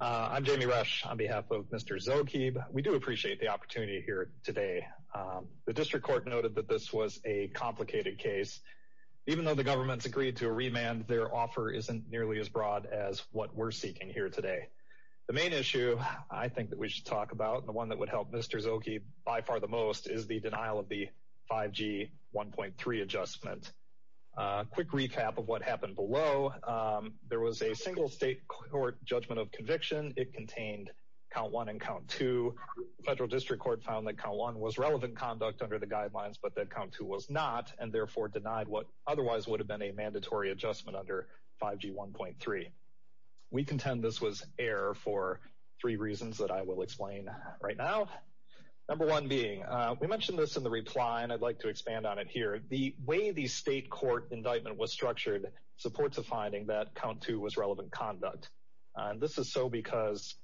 I'm Jamie Rush on behalf of Mr. Zogheib. We do appreciate the opportunity here today. The district court noted that this was a complicated case. Even though the government's agreed to a remand, their offer isn't nearly as broad as what we're seeking here today. The main issue I think that we should talk about, the one that would help Mr. Zogheib by far the most is the denial of the 5G 1.3 adjustment. Quick recap of what happened below. There was a single state court judgment of conviction. It contained count one and count two. Federal district court found that count one was relevant conduct under the guidelines, but that count two was not and therefore denied what otherwise would have been a mandatory adjustment under 5G 1.3. We contend this was error for three reasons that I will explain right now. Number one being, we mentioned this in the reply and I'd like to expand on it here. The way the state court indictment was structured supports a finding that count two was relevant conduct. This is so because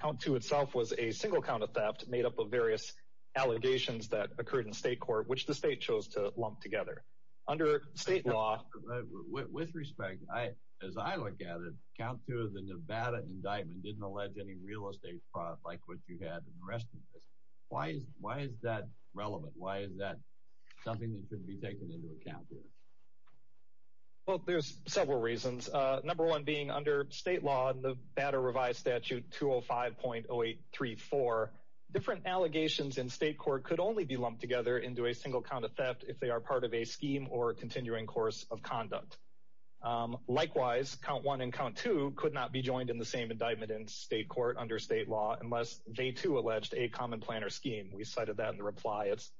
count two itself was a single count of theft made up of various allegations that occurred in state court, which the state chose to lump together. Under state law, with respect, as I look at it, count two of the Nevada indictment didn't allege any real estate fraud like what you had in the rest of this. Why is that relevant? Why is that something that should be taken into account here? Well, there's several reasons. Number one being under state law, Nevada revised statute 205.0834, different allegations in state court could only be lumped together into a single count of theft if they are part of a scheme or continuing course of conduct. Likewise, count one and count two could not be joined in the same indictment in state court under state law unless they too alleged a common plan or scheme. We cited that in the reply. It's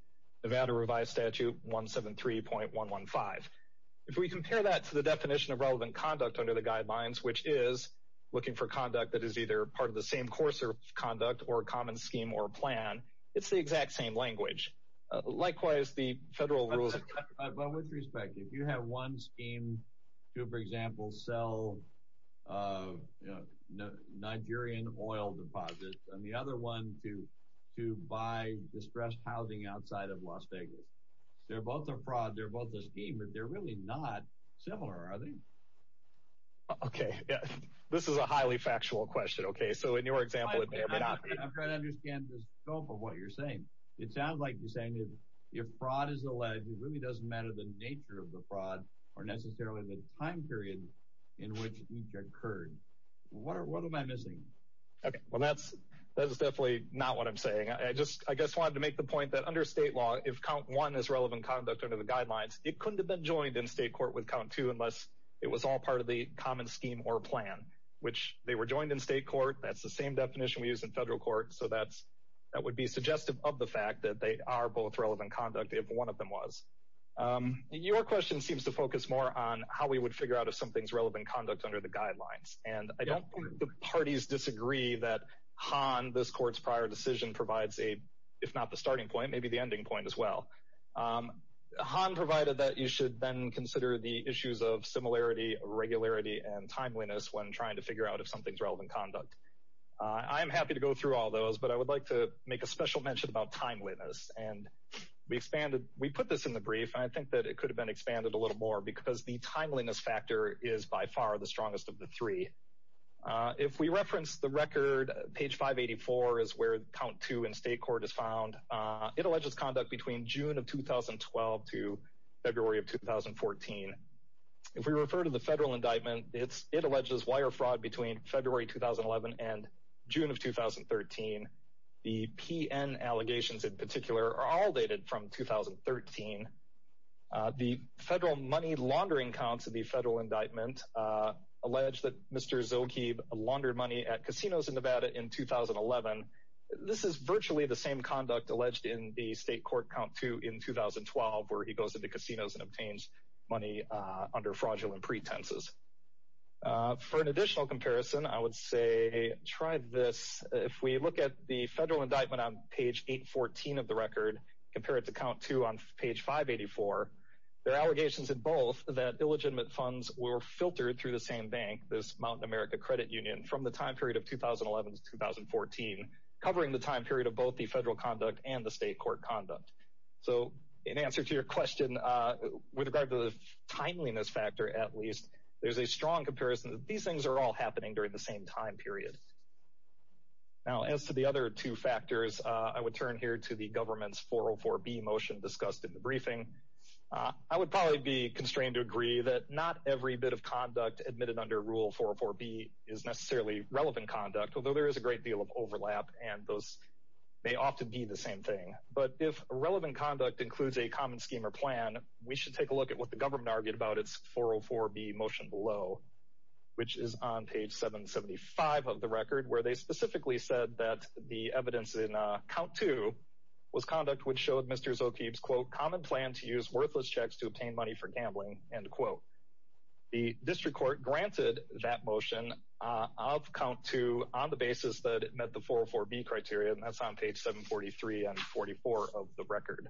Nevada revised statute 173.115. If we compare that to the definition of relevant conduct under the guidelines, which is looking for conduct that is either part of the same course of conduct or a common scheme or a plan, it's the exact same language. Likewise, the federal rules... Well, with respect, if you have one scheme to, for example, sell Nigerian oil deposits and the other one to buy distressed housing outside of Las Vegas, they're both a fraud, they're both a scheme, but they're really not similar, are they? Okay. This is a highly factual question. Okay. So in your example... I'm trying to understand the scope of what you're saying. It sounds like you're saying if fraud is alleged, it really doesn't matter the nature of the fraud or necessarily the time period in which each occurred. What am I missing? Okay. Well, that's definitely not what I'm saying. I just wanted to make the point that under state law, if count one is relevant conduct under the guidelines, it couldn't have been joined in state court with count two unless it was all part of the common scheme or plan, which they were joined in state court. That's the same definition we use in federal court. So that would be suggestive of the fact that they are both relevant conduct if one of them was. Your question seems to focus more on how we would figure out if something's relevant conduct under the guidelines. And I don't think the parties disagree that Han, this court's prior decision, provides a, if not the starting point, maybe the ending point as well. Han provided that you should then consider the issues of similarity, irregularity, and timeliness when trying to figure out if something's relevant conduct. I'm happy to go through all those, but I would like to make a special mention about timeliness. And we expanded, we put this in the brief, and I think that it could have been expanded a little more because the timeliness factor is by far the strongest of the three. If we reference the record, page 584 is where count two in state court is found. It alleges conduct between June of 2012 to February of 2014. If we refer to the federal indictment, it alleges wire fraud between February 2011 and June of 2013. The PN allegations in particular are all dated from 2013. The federal money laundering counts of the federal indictment allege that Mr. Zilke laundered money at casinos in Nevada in 2011. This is virtually the same conduct alleged in the state court count two in 2012, where he goes into casinos and obtains money under fraudulent pretenses. For an additional comparison, I would say try this. If we look at the federal indictment on page 814 of the record, compare it to count two on page 584, there are allegations in both that illegitimate funds were filtered through the same bank, this Mountain America Credit Union, from the time period of 2011 to 2014, covering the time period of both the federal conduct and the state court conduct. So, in answer to your question, with regard to the timeliness factor at least, there's a strong comparison that these things are all happening during the same time period. Now, as to the other two factors, I would turn here to the government's 404B motion discussed in the briefing. I would probably be constrained to agree that not every bit of conduct admitted under Rule 404B is necessarily relevant conduct, although there is a great deal of overlap, and those may often be the same thing. But if relevant conduct includes a common scheme or plan, we should take a look at what the government argued about its 404B motion below, which is on page 775 of the record, where they specifically said that the evidence in count two was conduct which showed Mr. Zokeeb's, quote, common plan to use worthless checks to obtain money for gambling, end quote. The district court granted that motion of count two on the basis that it met the 404B criteria, and that's on page 743 and 44 of the record.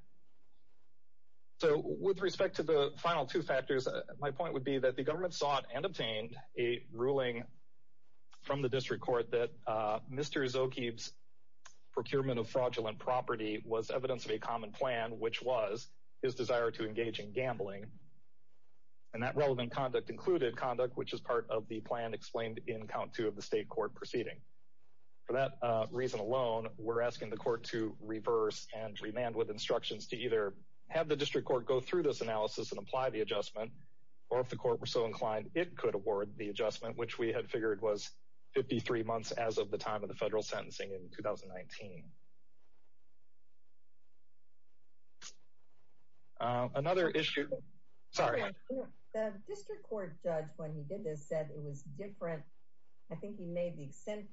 So, with respect to the final two factors, my point would be that the government sought and obtained a ruling from the district court that Mr. Zokeeb's procurement of fraudulent property was evidence of a common plan, which was his desire to engage in gambling, and that relevant conduct included conduct which is part of the plan explained in count two of the state court proceeding. For that reason alone, we're asking the court to reverse and remand with instructions to either have the district court go through this analysis and apply the adjustment, or if the court were so inclined, it could award the adjustment, which we had figured was 53 months as of the time of the federal sentencing in 2019. Another issue, sorry. The district court judge, when he did this, said it was different. I think he made the extent,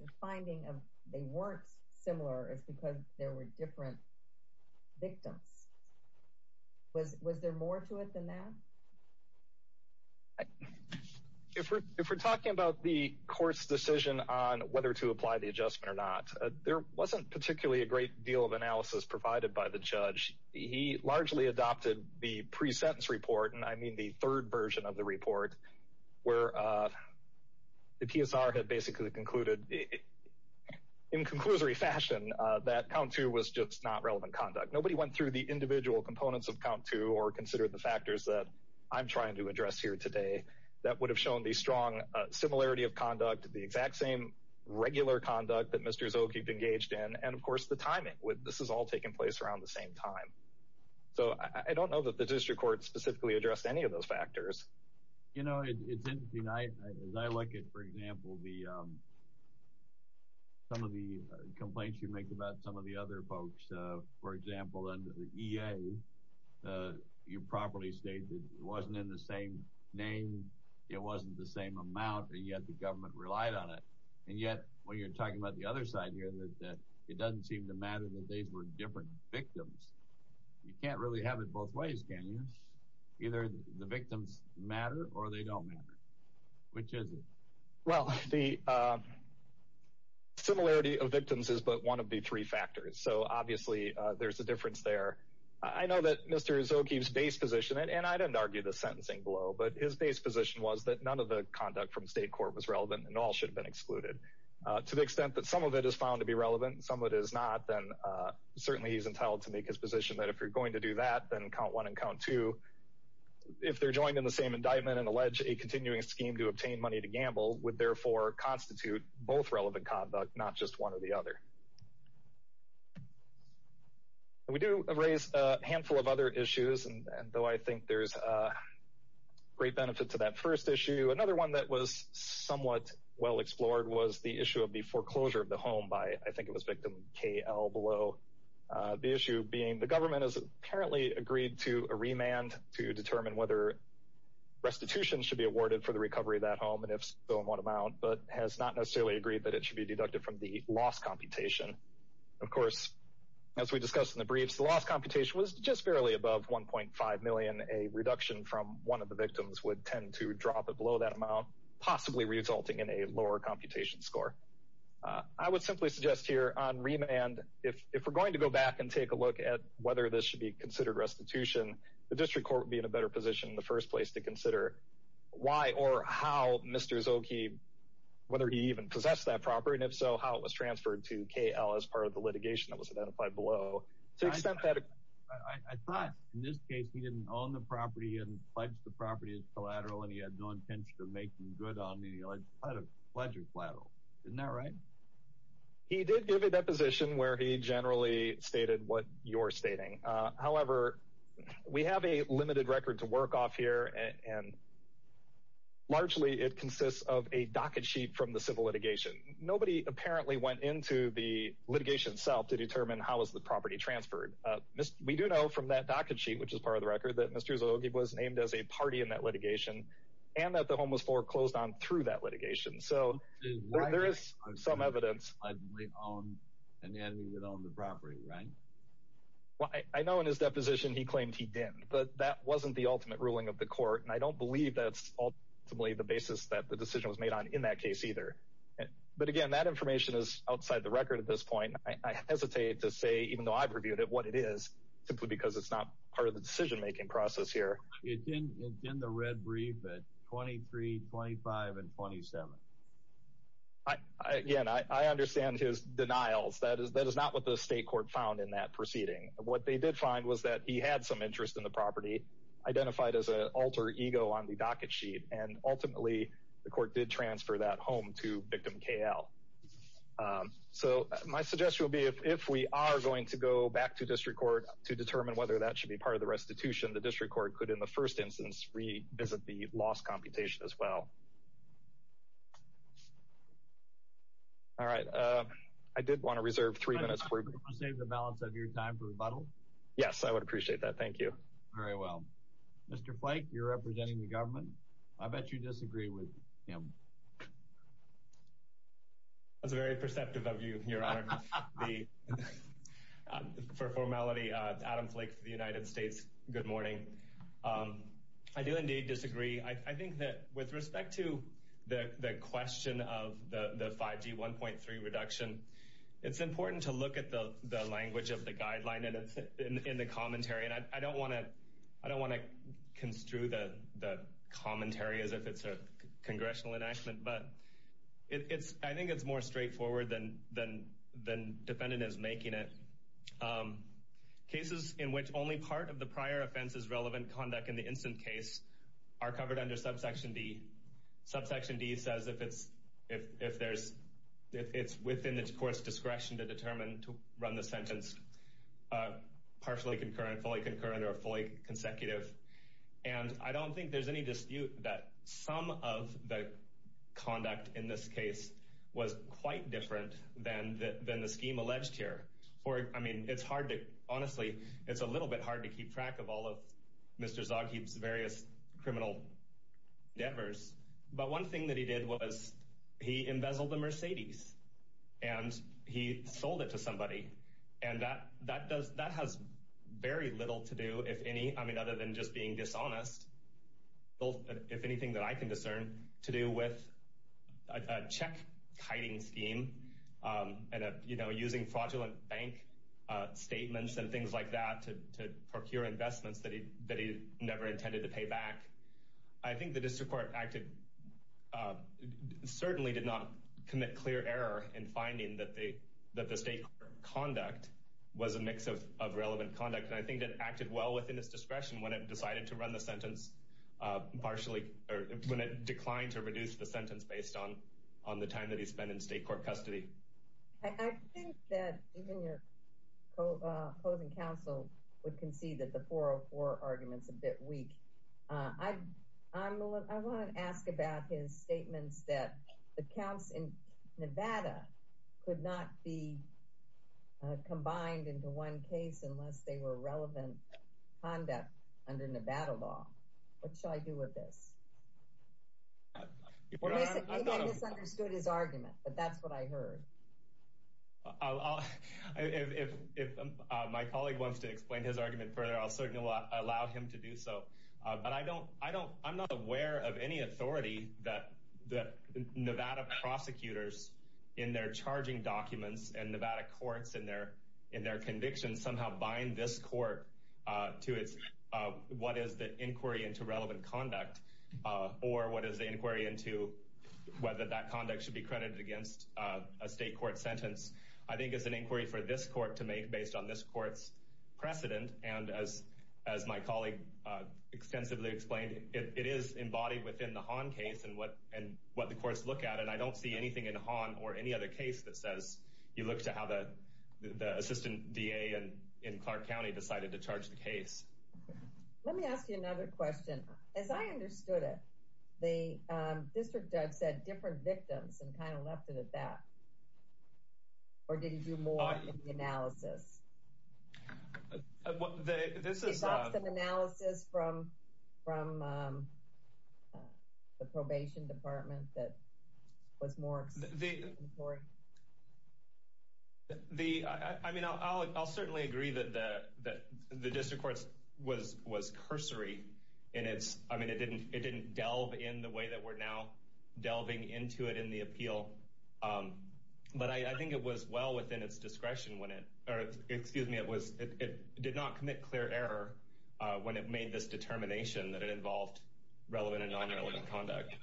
the finding of they weren't similar is because there were different victims. Was there more to it than that? If we're talking about the court's decision on whether to apply the adjustment or not, there wasn't particularly a great deal of analysis provided by the judge. He largely adopted the pre-sentence report, and I mean the third version of the report, where the PSR had basically concluded in conclusory fashion that count two was just not relevant conduct. Nobody went through the individual components of count two or considered the factors that I'm trying to address here today that would have shown the strong similarity of conduct, the exact same regular conduct that Mr. Zokeeb engaged in, and of course, the timing. This has all taken place around the same time. So, I don't know that the district court specifically addressed any of those factors. You know, it's interesting. As I look at, for example, some of the complaints you make about some of the other folks, for example, under the EA, you properly stated it wasn't in the same name, it wasn't the same amount, and yet the government relied on it. And yet, when you're talking about the other side here, that it doesn't seem to matter that these were different victims. You can't really have it both ways, can you? Either the victims matter, or they don't matter. Which is it? Well, the similarity of victims is but one of the three factors. So, obviously, there's a difference there. I know that Mr. Zokeeb's base position, and I didn't argue the sentencing below, but his base position was that none of the conduct from state court was relevant, and all should have been excluded. To the extent that some of it is found to be relevant, some of it is not, then certainly he's entitled to make his position that if you're going to do that, then count one and count two. If they're joined in the same indictment and allege a continuing scheme to obtain money to gamble, would therefore constitute both relevant conduct, not just one or the other. We do raise a handful of other issues, and though I think there's a great benefit to that first issue, another one that was somewhat well explored was the issue of the foreclosure of the home by, I think it was victim KL below. The issue being the government has apparently agreed to a remand to determine whether restitution should be awarded for the recovery of that home, and if so, in what amount, but has not necessarily agreed that it should be deducted from the loss computation. Of course, as we discussed in the briefs, the loss computation was just barely above 1.5 million. A reduction from one of the victims would tend to drop it below that amount, possibly resulting in a lower computation score. I would simply suggest here on remand, if we're going to go back and take a look at whether this should be considered restitution, the district court would be in a better position in the first place to consider why or how Mr. Zoki, whether he even possessed that property, and if so, how it was transferred to KL as part of the litigation that was identified below. I thought in this case, he didn't own the property and pledged the property as collateral, and he had no intention to make them good on the alleged collateral. Isn't that right? He did give a deposition where he generally stated what you're stating. However, we have a limited record to work off here, and largely it consists of a docket sheet from the civil litigation. Nobody apparently went into the litigation itself to determine how was the property transferred. We do know from that docket sheet, which is part of the record, that Mr. Zoki was named as a party in that litigation and that the home was foreclosed on through that litigation. So there is some evidence. I know in his deposition he claimed he didn't, but that wasn't the ultimate ruling of the court, and I don't believe that's ultimately the basis that the decision was made on in that either. But again, that information is outside the record at this point. I hesitate to say, even though I've reviewed it, what it is, simply because it's not part of the decision-making process here. It's in the red brief at 23, 25, and 27. Again, I understand his denials. That is not what the state court found in that proceeding. What they did find was that he had some interest in the property, identified as an alter ego on the docket sheet, and ultimately the court did transfer that home to victim KL. So my suggestion would be, if we are going to go back to district court to determine whether that should be part of the restitution, the district court could, in the first instance, revisit the lost computation as well. All right. I did want to reserve three minutes. Can I just ask you to save the balance of your time for rebuttal? Yes, I would appreciate that. Thank you. Very well. Mr. Flake, you're representing the government. I bet you disagree with him. I was very perceptive of you, Your Honor. For formality, Adam Flake for the United States, good morning. I do indeed disagree. I think that with respect to the question of the 5G 1.3 reduction, it's important to look at the language of the guideline in the commentary. And I don't want to construe the commentary as if it's a congressional enactment, but I think it's more straightforward than the defendant is making it. Cases in which only part of the prior offense is relevant conduct in the instant case are covered under subsection D. Subsection D says if it's within the court's discretion to determine to run the sentence partially concurrent, fully concurrent or fully consecutive. And I don't think there's any dispute that some of the conduct in this case was quite different than the scheme alleged here. I mean, it's hard to honestly, it's a little bit hard to keep track of all of Mr. Zoghib's various criminal endeavors. But one thing that he did was he embezzled the Mercedes and he sold it to somebody. And that does that has very little to do, if any, I mean, other than just being dishonest, if anything that I can discern to do with a check kiting scheme and, you know, using fraudulent bank statements and things like that to procure investments that he that he never intended to pay back. I think the district court acted certainly did not commit clear error in finding that they that the state conduct was a mix of relevant conduct. And I think it acted well within its discretion when it decided to run the sentence partially or when it declined to reduce the sentence based on on the time that he spent in state court custody. I think that even your opposing counsel would concede that the 404 argument's a bit weak. I want to ask about his statements that the counts in Nevada could not be combined into one case unless they were relevant conduct under Nevada law. What shall I do with this? You may have misunderstood his argument, but that's what I heard. If my colleague wants to explain his argument further, I'll certainly allow him to do so. But I don't, I don't, I'm not aware of any authority that the Nevada prosecutors in their in their convictions somehow bind this court to its what is the inquiry into relevant conduct or what is the inquiry into whether that conduct should be credited against a state court sentence. I think it's an inquiry for this court to make based on this court's precedent. And as as my colleague extensively explained, it is embodied within the Hahn case and what and what the courts look at and I don't see anything in Hahn or any other case that says you look to how the assistant DA and in Clark County decided to charge the case. Let me ask you another question. As I understood it, the district judge said different victims and kind of left it at that. Or did he do more in the analysis? This is an analysis from from the probation department that was more. The I mean, I'll I'll certainly agree that the that the district courts was was cursory and it's I mean, it didn't it didn't delve in the way that we're now delving into it in the appeal. But I think it was well within its discretion when it or it was in its discretion to excuse me, it was it did not commit clear error when it made this determination that it involved relevant and nonrelevant conduct.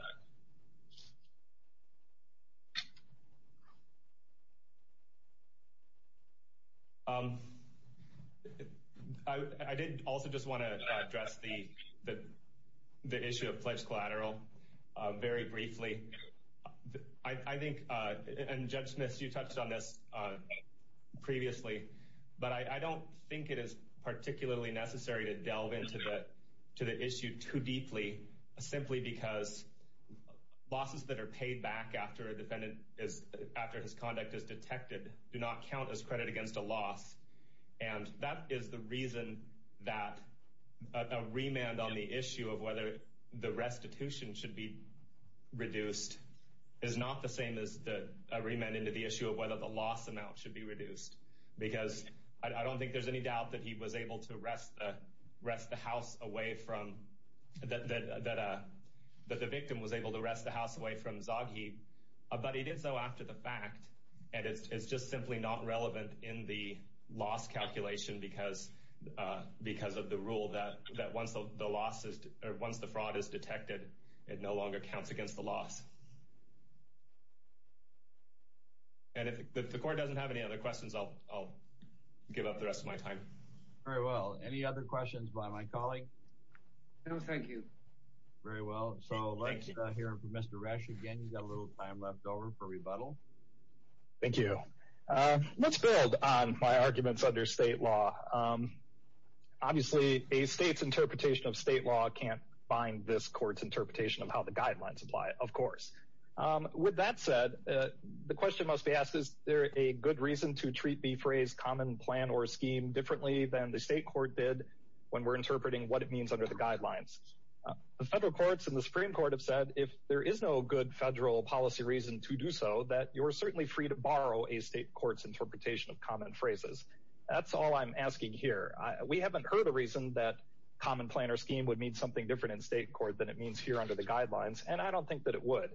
I did also just want to address the the the issue of pledge collateral very briefly. I think and Judge Smith, you touched on this previously, but I don't think it is particularly necessary to delve into that to the issue too deeply, simply because losses that are paid back after a defendant is after his conduct is detected do not count as credit against a loss, and that is the reason that a remand on the issue of whether the restitution should be reduced is not the same as the remand into the issue of whether the loss amount should be reduced, because I don't think there's any doubt that he was able to arrest rest the house away from that, that the victim was able to rest the house away from Zoghi, but he did so after the fact. And it's just simply not relevant in the loss calculation because of the rule that once the fraud is detected, it no longer counts against the loss. And if the court doesn't have any other questions, I'll give up the rest of my time. Very well, any other questions by my colleague? No, thank you. Very well, so let's hear from Mr. Resch again. You got a little time left over for rebuttal. Thank you. Let's build on my arguments under state law. Obviously, a state's interpretation of state law can't bind this court's interpretation of how the guidelines apply, of course. With that said, the question must be asked, is there a good reason to treat the phrase common plan or scheme differently than the state court did when we're interpreting what it means under the guidelines? The federal courts and the Supreme Court have said if there is no good federal policy reason to do so, that you're certainly free to borrow a state court's interpretation of common phrases. That's all I'm asking here. We haven't heard a reason that common plan or scheme would mean something different in state court than it means here under the guidelines, and I don't think that it would.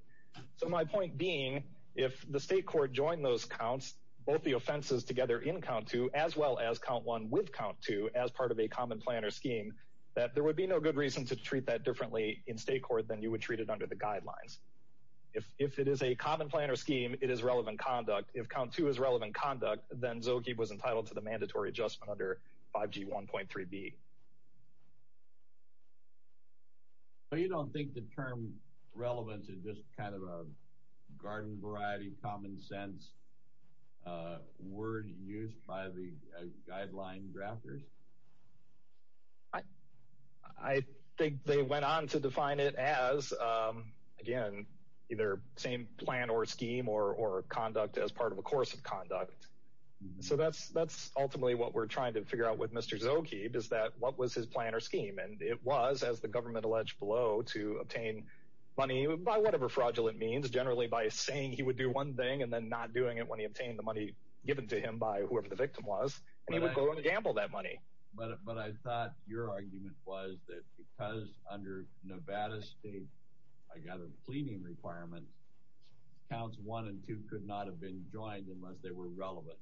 So my point being, if the state court joined those counts, both the offenses together in count two as well as count one with count two as part of a common plan or scheme, that there would be no good reason to treat that differently in state court than you would treat it under the guidelines. If it is a common plan or scheme, it is relevant conduct. If count two is relevant conduct, then Zokie was entitled to the mandatory adjustment under 5G 1.3b. So you don't think the term relevant is just kind of a garden variety, common sense word used by the guideline drafters? I think they went on to define it as, again, either same plan or scheme or conduct as part of a course of conduct. So that's ultimately what we're trying to figure out with Mr. Zokie, is that what was his plan or scheme? And it was, as the government alleged below, to obtain money by whatever fraudulent means, generally by saying he would do one thing and then not doing it when he obtained the money given to him by whoever the victim was, and he would go and gamble that money. But I thought your argument was that because under Nevada state, I got a pleading requirement, counts one and two could not have been joined unless they were relevant.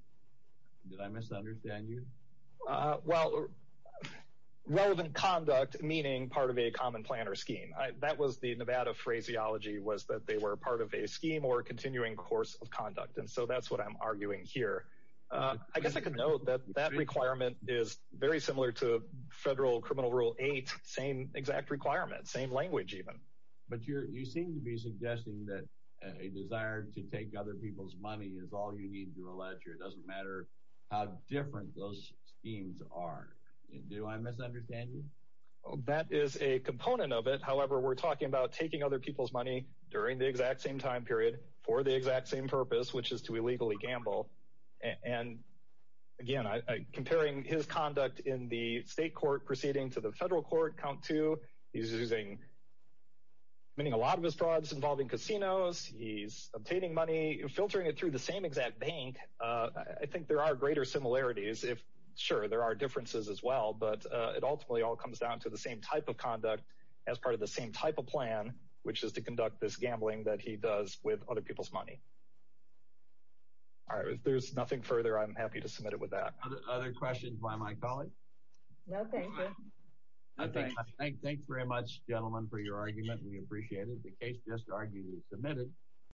Did I misunderstand you? Well, relevant conduct meaning part of a common plan or scheme. That was the Nevada phraseology, was that they were part of a scheme or continuing course of conduct. And so that's what I'm arguing here. I guess I could note that that requirement is very similar to federal criminal rule 8, same exact requirement, same language even. But you seem to be suggesting that a desire to take other people's money is all you need to allege, or it doesn't matter how different those schemes are. Do I misunderstand you? That is a component of it. However, we're talking about taking other people's money during the exact same time period for the exact same purpose, which is to illegally gamble. And again, comparing his conduct in the state court proceeding to the federal court, count two, he's using, meaning a lot of his frauds involving casinos, he's obtaining money, filtering it through the same exact bank. I think there are greater similarities if, sure, there are differences as well, but it ultimately all comes down to the same type of conduct as part of the same type of plan, which is to conduct this gambling that he does with other people's money. All right, if there's nothing further, I'm happy to submit it with that. Other questions by my colleague? No, thank you. Thanks very much, gentlemen, for your argument. We appreciate it. The case just argued is submitted.